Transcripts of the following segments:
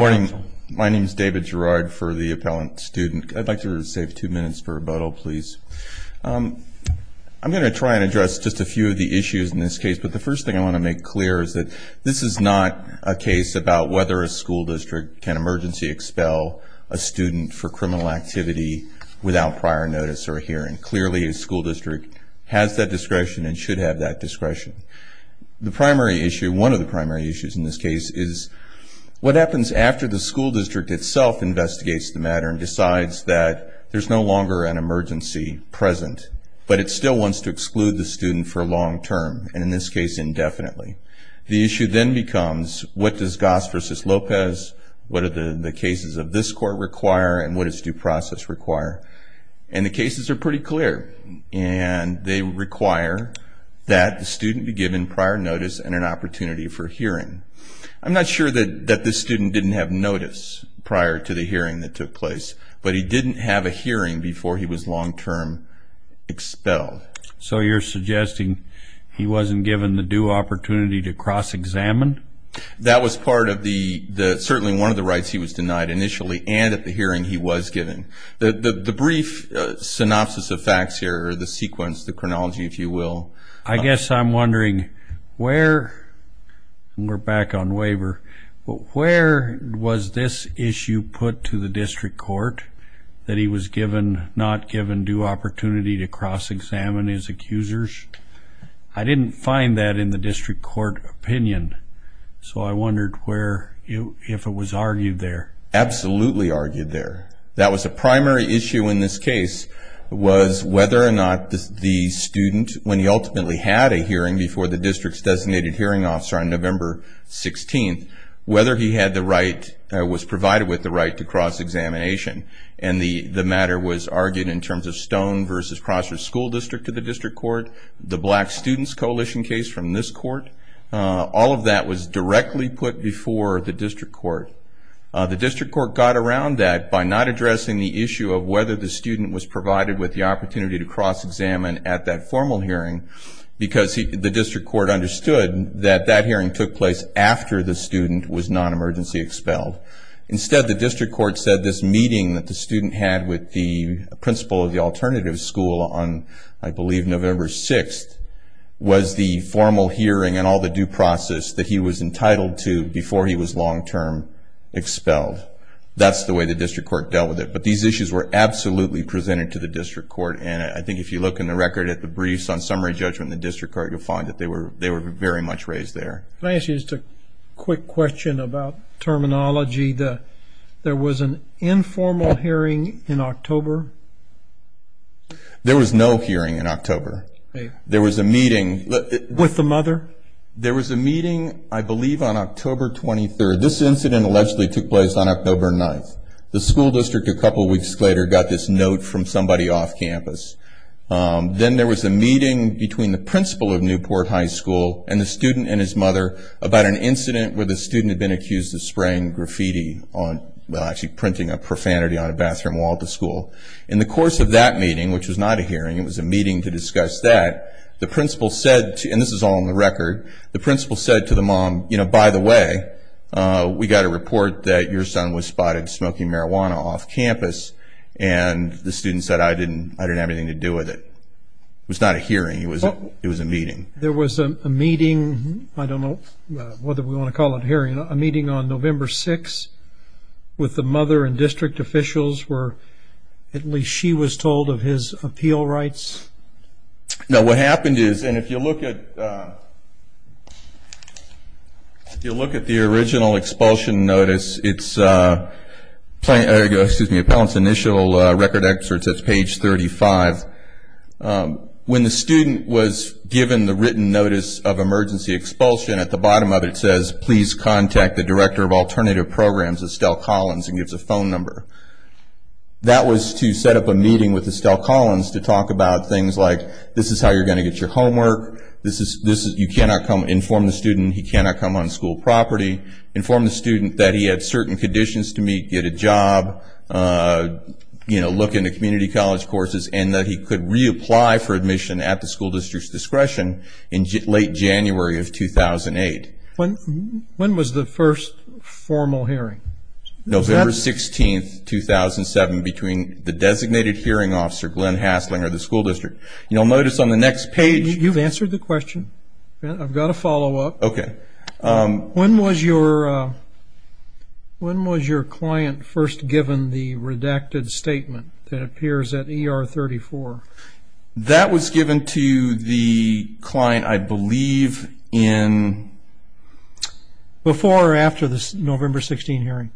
Good morning. My name is David Gerard for the appellant student. I'd like to save two minutes for rebuttal, please. I'm going to try and address just a few of the issues in this case, but the first thing I want to make clear is that this is not a case about whether a school district can emergency expel a student for criminal activity without prior notice or hearing. Clearly a school district has that discretion and should have that discretion. The primary issue, one of the primary issues in this case, is what happens after the school district itself investigates the matter and decides that there's no longer an emergency present, but it still wants to exclude the student for long term, and in this case indefinitely. The issue then becomes what does Goss v. Lopez, what do the cases of this court require, and what does due process require? And the cases are pretty clear, and they require that the student be given prior notice and an opportunity for hearing. I'm not sure that this student didn't have notice prior to the hearing that took place, but he didn't have a hearing before he was long term expelled. So you're suggesting he wasn't given the due opportunity to cross-examine? That was part of the, certainly one of the rights he was denied initially and at the hearing he was given. The brief synopsis of facts here, the sequence, the chronology if you will. I guess I'm wondering where, and we're back on waiver, but where was this issue put to the district court that he was given, not given due opportunity to cross-examine his accusers? I didn't find that in the district court opinion, so I wondered where, if it was argued there. Absolutely argued there. That was a primary issue in this case was whether or not the student, when he ultimately had a hearing before the district's designated hearing officer on November 16th, whether he had the right, was provided with the right to cross-examination. And the matter was argued in terms of Stone v. Prosser School District to the district court, the Black Students Coalition case from this court. All of that was directly put before the district court. The district court got around that by not addressing the issue of whether the student was provided with the opportunity to cross-examine at that formal hearing because the district court understood that that hearing took place after the student was non-emergency expelled. Instead, the district court said this meeting that the student had with the principal of the alternative school on, I believe, November 6th was the formal hearing and all the due process that he was entitled to before he was long-term expelled. That's the way the district court dealt with it. But these issues were absolutely presented to the district court, and I think if you look in the record at the briefs on summary judgment in the district court, you'll find that they were very much raised there. Can I ask you just a quick question about terminology? There was an informal hearing in October? There was no hearing in October. There was a meeting. With the mother? There was a meeting, I believe, on October 23rd. This incident allegedly took place on October 9th. The school district a couple weeks later got this note from somebody off campus. Then there was a meeting between the principal of Newport High School and the student and his mother about an incident where the student had been accused of spraying graffiti on, well, actually printing a profanity on a bathroom wall at the school. In the course of that meeting, which was not a hearing, it was a meeting to discuss that, the principal said, and this is all in the record, the principal said to the mom, you know, by the way, we got a report that your son was spotted smoking marijuana off campus, and the student said, I didn't have anything to do with it. It was not a hearing, it was a meeting. There was a meeting, I don't know whether we want to call it a hearing, a meeting on November 6th with the mother and district officials where at least she was told of his appeal rights? Now what happened is, and if you look at the original expulsion notice, it's, excuse me, Appellant's initial record excerpt says page 35. When the student was given the written notice of emergency expulsion, at the bottom of it it says, please contact the director of alternative programs, Estelle Collins, and gives a phone number. That was to set up a meeting with Estelle Collins to talk about things like, this is how you're going to get your homework, you cannot inform the student he cannot come on school property, inform the student that he had certain conditions to meet, get a job, you know, look into community college courses, and that he could reapply for admission at the school district's discretion in late January of 2008. When was the first formal hearing? November 16th, 2007, between the designated hearing officer, Glenn Haslinger, the school district. You'll notice on the next page... You've answered the question. I've got a follow-up. Okay. When was your client first given the redacted statement that appears at ER 34? That was given to the client, I believe, in... Before or after the November 16th hearing?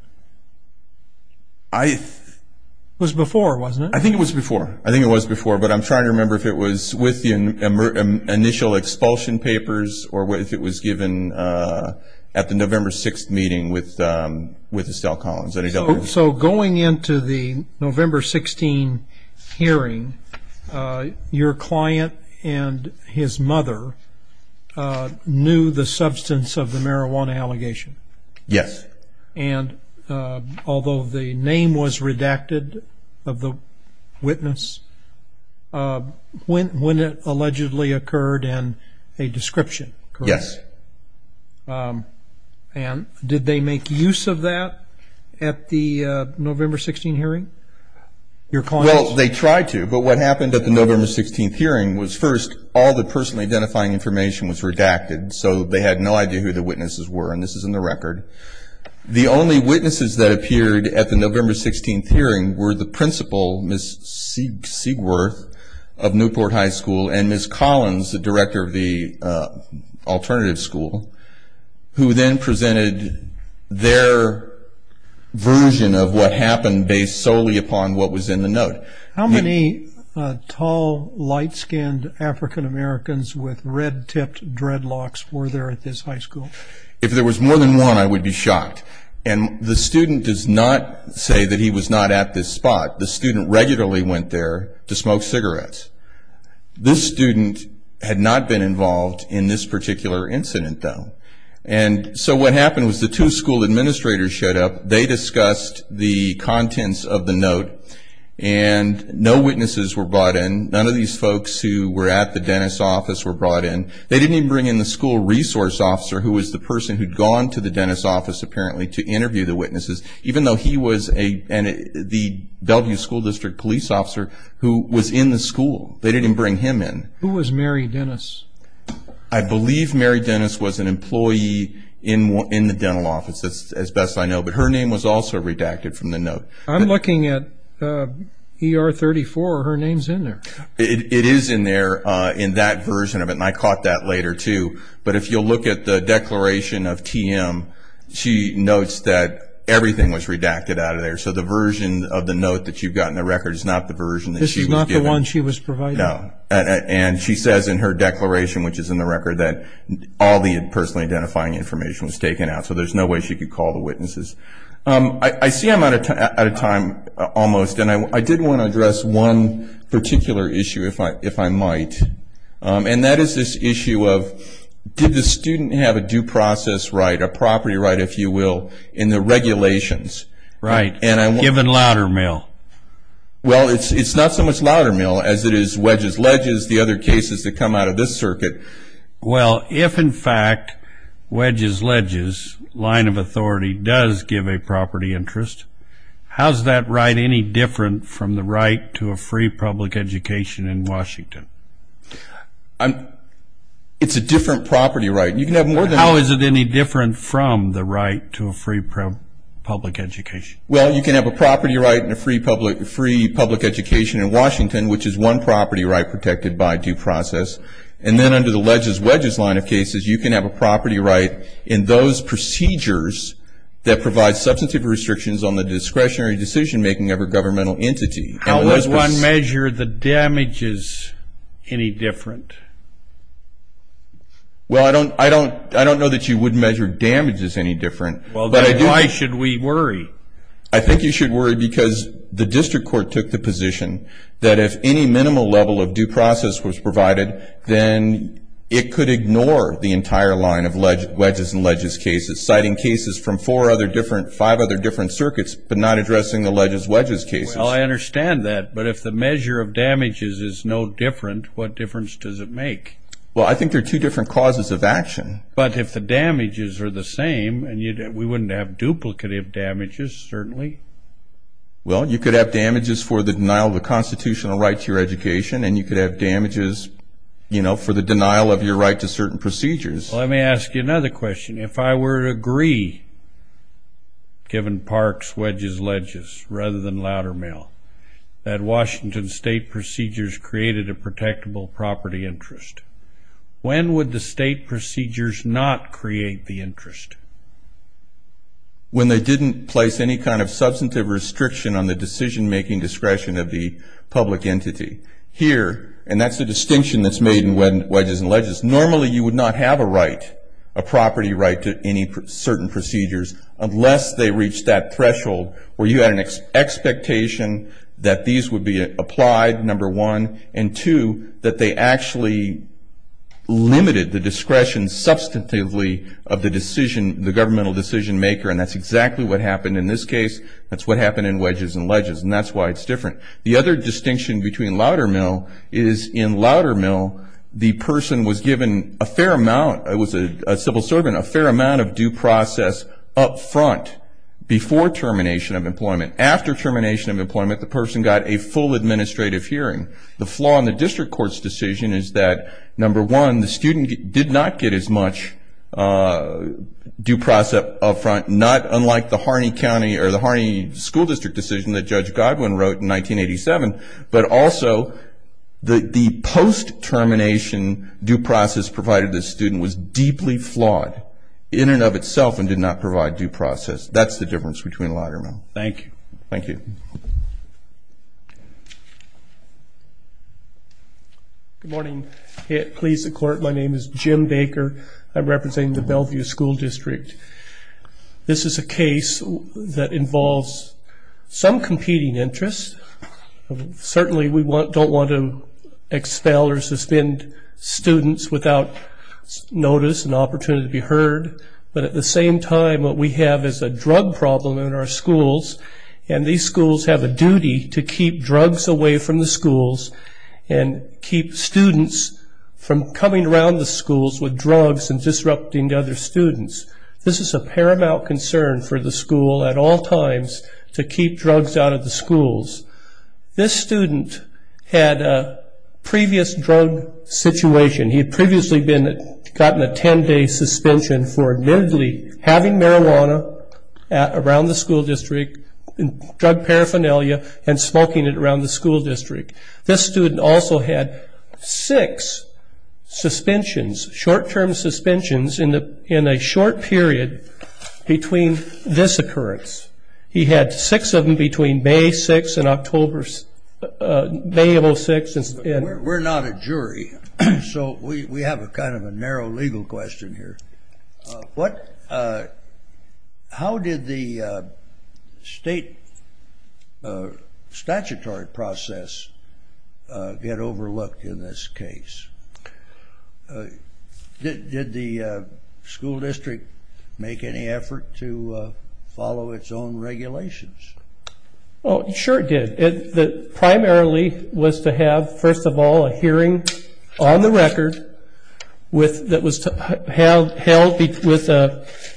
I... It was before, wasn't it? I think it was before. I think it was before, but I'm trying to remember if it was with the initial expulsion papers, or if it was given at the November 6th meeting with Estelle Collins. So going into the November 16th hearing, your client and his mother knew the substance of the marijuana allegation? Yes. And although the name was redacted of the witness, when it allegedly occurred and a description, correct? Yes. And did they make use of that at the November 16th hearing? Your client... Well, they tried to, but what happened at the November 16th hearing was first all the personally identifying information was redacted, so they had no idea who the witnesses were, and this is in the record. The only witnesses that appeared at the November 16th hearing were the principal, Ms. Siegworth, of Newport High School, and Ms. Collins, the director of the alternative school, who then presented their version of what happened based solely upon what was in the note. How many tall, light-skinned African Americans with red-tipped dreadlocks were there at this high school? If there was more than one, I would be shocked, and the student does not say that he was not at this spot. The student regularly went there to smoke cigarettes. This student had not been involved in this particular incident, though, and so what happened was the two school administrators showed up, they discussed the contents of the note, and no witnesses were brought in. None of these folks who were at the dentist's office were brought in. They didn't even bring in the school resource officer, who was the person who'd gone to the dentist's office, apparently, to interview the witnesses, even though he was the Bellevue School District police officer who was in the school. They didn't even bring him in. Who was Mary Dennis? I believe Mary Dennis was an employee in the dental office, as best I know, but her name was also redacted from the note. I'm looking at ER 34. Her name's in there. It is in there, in that version of it, and I caught that later, too, but if you'll look at the declaration of TM, she notes that everything was redacted out of there, so the version of the note that you've got in the record is not the version that she was given. This is not the one she was provided? No, and she says in her declaration, which is in the record, that all the personally identifying information was taken out, so there's no way she could call the witnesses. I see I'm out of time almost, and I did want to address one particular issue, if I might, and that is this issue of did the student have a due process right, a property right, if you will, in the regulations? Right, given Loudermill. Well, it's not so much Loudermill as it is Wedges-Ledges, the other cases that come out of this circuit. Well, if, in fact, Wedges-Ledges, line of authority, does give a property interest, how is that right any different from the right to a free public education in Washington? It's a different property right. How is it any different from the right to a free public education? Well, you can have a property right and a free public education in Washington, which is one property right protected by due process, and then under the Ledges-Wedges line of cases, you can have a property right in those procedures that provide substantive restrictions on the discretionary decision making of a governmental entity. How would one measure the damages any different? Well, I don't know that you would measure damages any different. Well, then why should we worry? I think you should worry because the district court took the position that if any minimal level of due process was provided, then it could ignore the entire line of Wedges-Ledges cases, citing cases from five other different circuits but not addressing the Ledges-Wedges cases. Well, I understand that. But if the measure of damages is no different, what difference does it make? Well, I think there are two different causes of action. But if the damages are the same, we wouldn't have duplicative damages, certainly. Well, you could have damages for the denial of a constitutional right to your education, and you could have damages, you know, for the denial of your right to certain procedures. Let me ask you another question. If I were to agree, given Parks-Wedges-Ledges rather than Loudermail, that Washington state procedures created a protectable property interest, when they didn't place any kind of substantive restriction on the decision-making discretion of the public entity. Here, and that's the distinction that's made in Wedges-Ledges, normally you would not have a right, a property right to any certain procedures, unless they reached that threshold where you had an expectation that these would be applied, number one, and, two, that they actually limited the discretion substantively of the decision, the governmental decision-maker, and that's exactly what happened in this case. That's what happened in Wedges-Ledges, and that's why it's different. The other distinction between Loudermail is in Loudermail the person was given a fair amount, it was a civil servant, a fair amount of due process up front before termination of employment. After termination of employment, the person got a full administrative hearing. The flaw in the district court's decision is that, number one, the student did not get as much due process up front, not unlike the Harney County or the Harney School District decision that Judge Godwin wrote in 1987, but also the post-termination due process provided to the student was deeply flawed in and of itself and did not provide due process. That's the difference between Loudermail. Thank you. Thank you. Good morning. Please support. My name is Jim Baker. I represent the Bellevue School District. This is a case that involves some competing interests. Certainly we don't want to expel or suspend students without notice and opportunity to be heard, but at the same time what we have is a drug problem in our schools, and these schools have a duty to keep drugs away from the schools and keep students from coming around the schools with drugs and disrupting the other students. This is a paramount concern for the school at all times to keep drugs out of the schools. This student had a previous drug situation. He had previously gotten a 10-day suspension for admittedly having marijuana around the school district, drug paraphernalia, and smoking it around the school district. This student also had six suspensions, short-term suspensions, in a short period between this occurrence. He had six of them between May 6th and October 6th. We're not a jury, so we have kind of a narrow legal question here. How did the state statutory process get overlooked in this case? Did the school district make any effort to follow its own regulations? Sure it did. It primarily was to have, first of all, a hearing on the record that was held with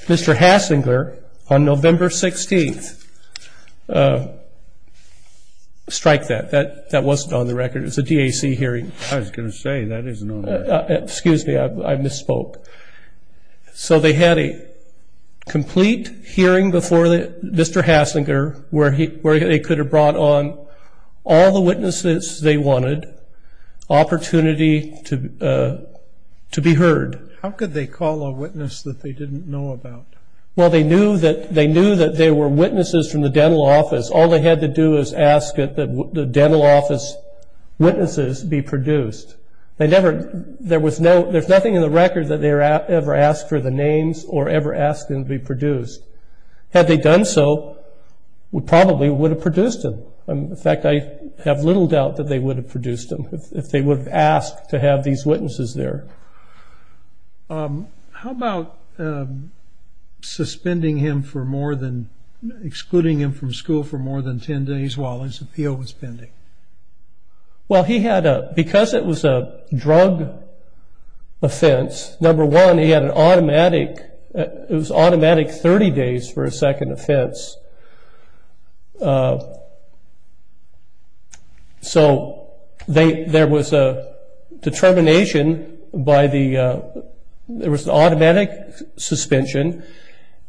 Mr. Hasslinger on November 16th. Strike that. That wasn't on the record. It was a DAC hearing. I was going to say, that isn't on there. Excuse me. I misspoke. So they had a complete hearing before Mr. Hasslinger, where they could have brought on all the witnesses they wanted, opportunity to be heard. How could they call a witness that they didn't know about? Well, they knew that there were witnesses from the dental office. All they had to do was ask that the dental office witnesses be produced. There's nothing in the record that they ever asked for the names or ever asked them to be produced. Had they done so, we probably would have produced them. In fact, I have little doubt that they would have produced them, if they would have asked to have these witnesses there. How about suspending him for more than, excluding him from school for more than 10 days while his appeal was pending? Well, because it was a drug offense, number one, he had an automatic 30 days for a second offense. So there was an automatic suspension,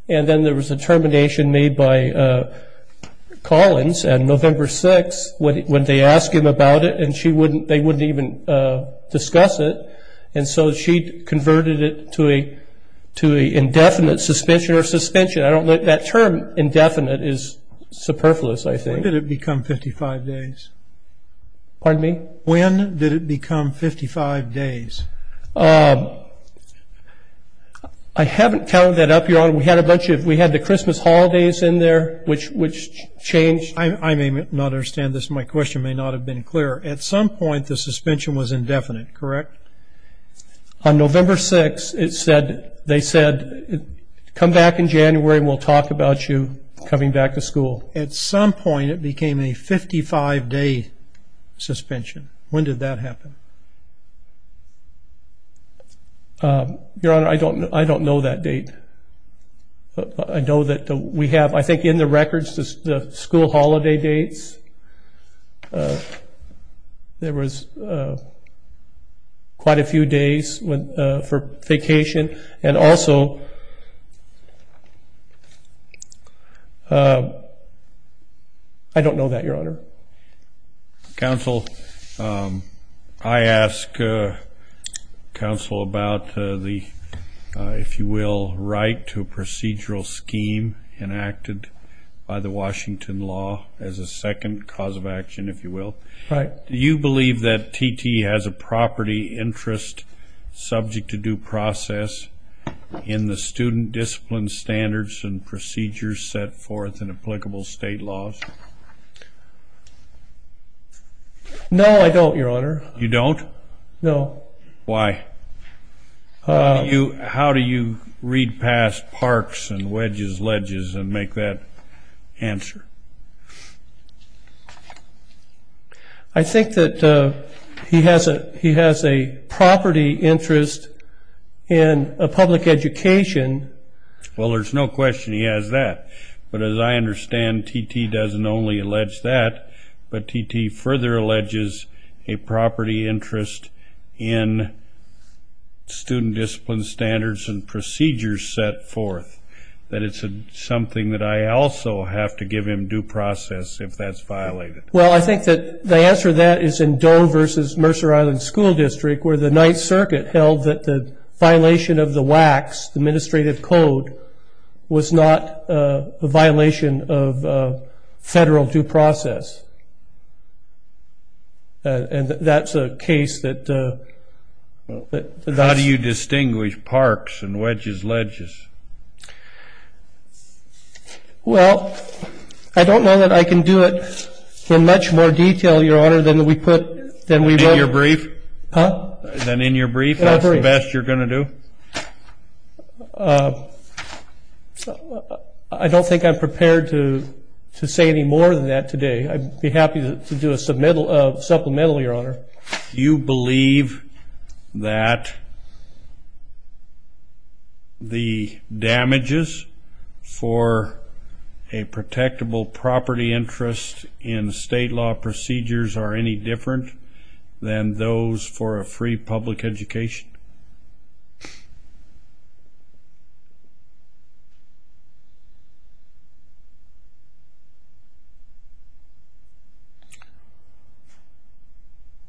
and then there was a termination made by Collins. And November 6th, when they asked him about it, and they wouldn't even discuss it. And so she converted it to an indefinite suspension or suspension. I don't know. That term, indefinite, is superfluous, I think. When did it become 55 days? Pardon me? When did it become 55 days? I haven't counted that up, Your Honor. We had the Christmas holidays in there, which changed. I may not understand this. My question may not have been clear. At some point, the suspension was indefinite, correct? On November 6th, they said, come back in January and we'll talk about you coming back to school. At some point, it became a 55-day suspension. When did that happen? Your Honor, I don't know that date. I know that we have, I think in the records, the school holiday dates. There was quite a few days for vacation. And also, I don't know that, Your Honor. Counsel, I ask counsel about the, if you will, right to a procedural scheme enacted by the Washington law as a second cause of action, if you will. Right. Do you believe that TT has a property interest subject to due process in the student discipline standards and procedures set forth in applicable state laws? No, I don't, Your Honor. You don't? No. Why? How do you read past parks and wedges, ledges and make that answer? I think that he has a property interest in a public education. Well, there's no question he has that. But as I understand, TT doesn't only allege that, but TT further alleges a property interest in student discipline standards and procedures set forth. That it's something that I also have to give him due process if that's violated. Well, I think that the answer to that is in Doe v. Mercer Island School District, where the Ninth Circuit held that the violation of the WACs, the administrative code, was not a violation of federal due process. And that's a case that does. How do you distinguish parks and wedges, ledges? Well, I don't know that I can do it in much more detail, Your Honor, than we put. In your brief? Huh? Then in your brief, that's the best you're going to do? I don't think I'm prepared to say any more than that today. I'd be happy to do a supplemental, Your Honor. Do you believe that the damages for a protectable property interest in state law procedures are any different than those for a free public education?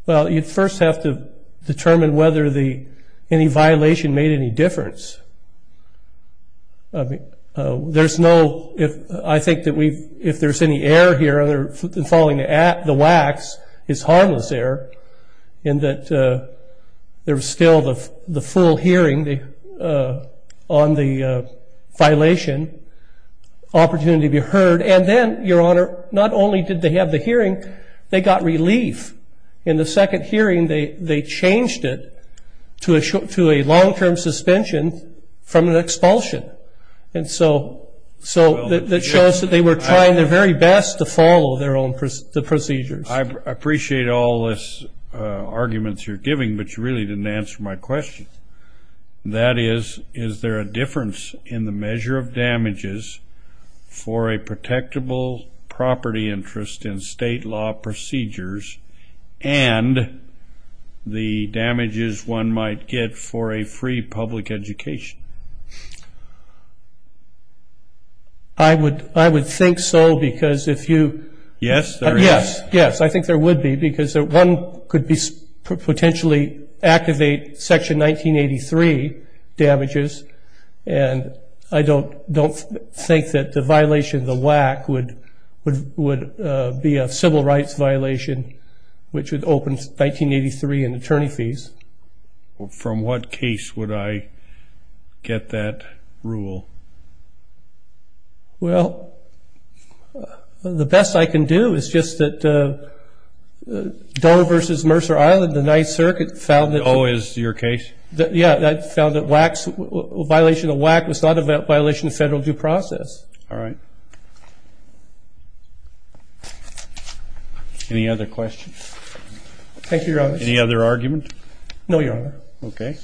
Well, you'd first have to determine whether any violation made any difference. I think that if there's any error here in following the WACs, it's harmless error, in that there's still the full hearing on the violation, opportunity to be heard. And then, Your Honor, not only did they have the hearing, they got relief. In the second hearing, they changed it to a long-term suspension from an expulsion. And so that shows that they were trying their very best to follow their own procedures. I appreciate all this arguments you're giving, but you really didn't answer my question. That is, is there a difference in the measure of damages for a protectable property interest in state law procedures and the damages one might get for a free public education? I would think so, because if you— Yes, there is. Yes, I think there would be, because one could potentially activate Section 1983 damages, and I don't think that the violation of the WAC would be a civil rights violation, which would open 1983 in attorney fees. From what case would I get that rule? Well, the best I can do is just that Doar v. Mercer Island, the Ninth Circuit, found that— Oh, is your case? Yeah, that found that WAC's—a violation of WAC was not a violation of federal due process. All right. Any other questions? Thank you, Your Honor. Any other argument? No, Your Honor. Okay.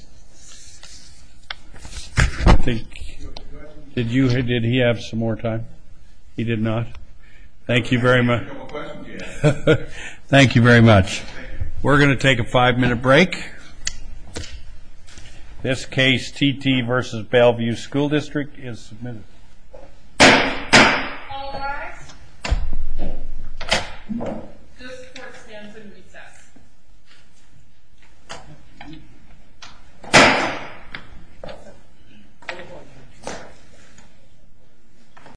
Did he have some more time? He did not. Thank you very much. Thank you very much. We're going to take a five-minute break. This case, T.T. v. Bellevue School District, is submitted.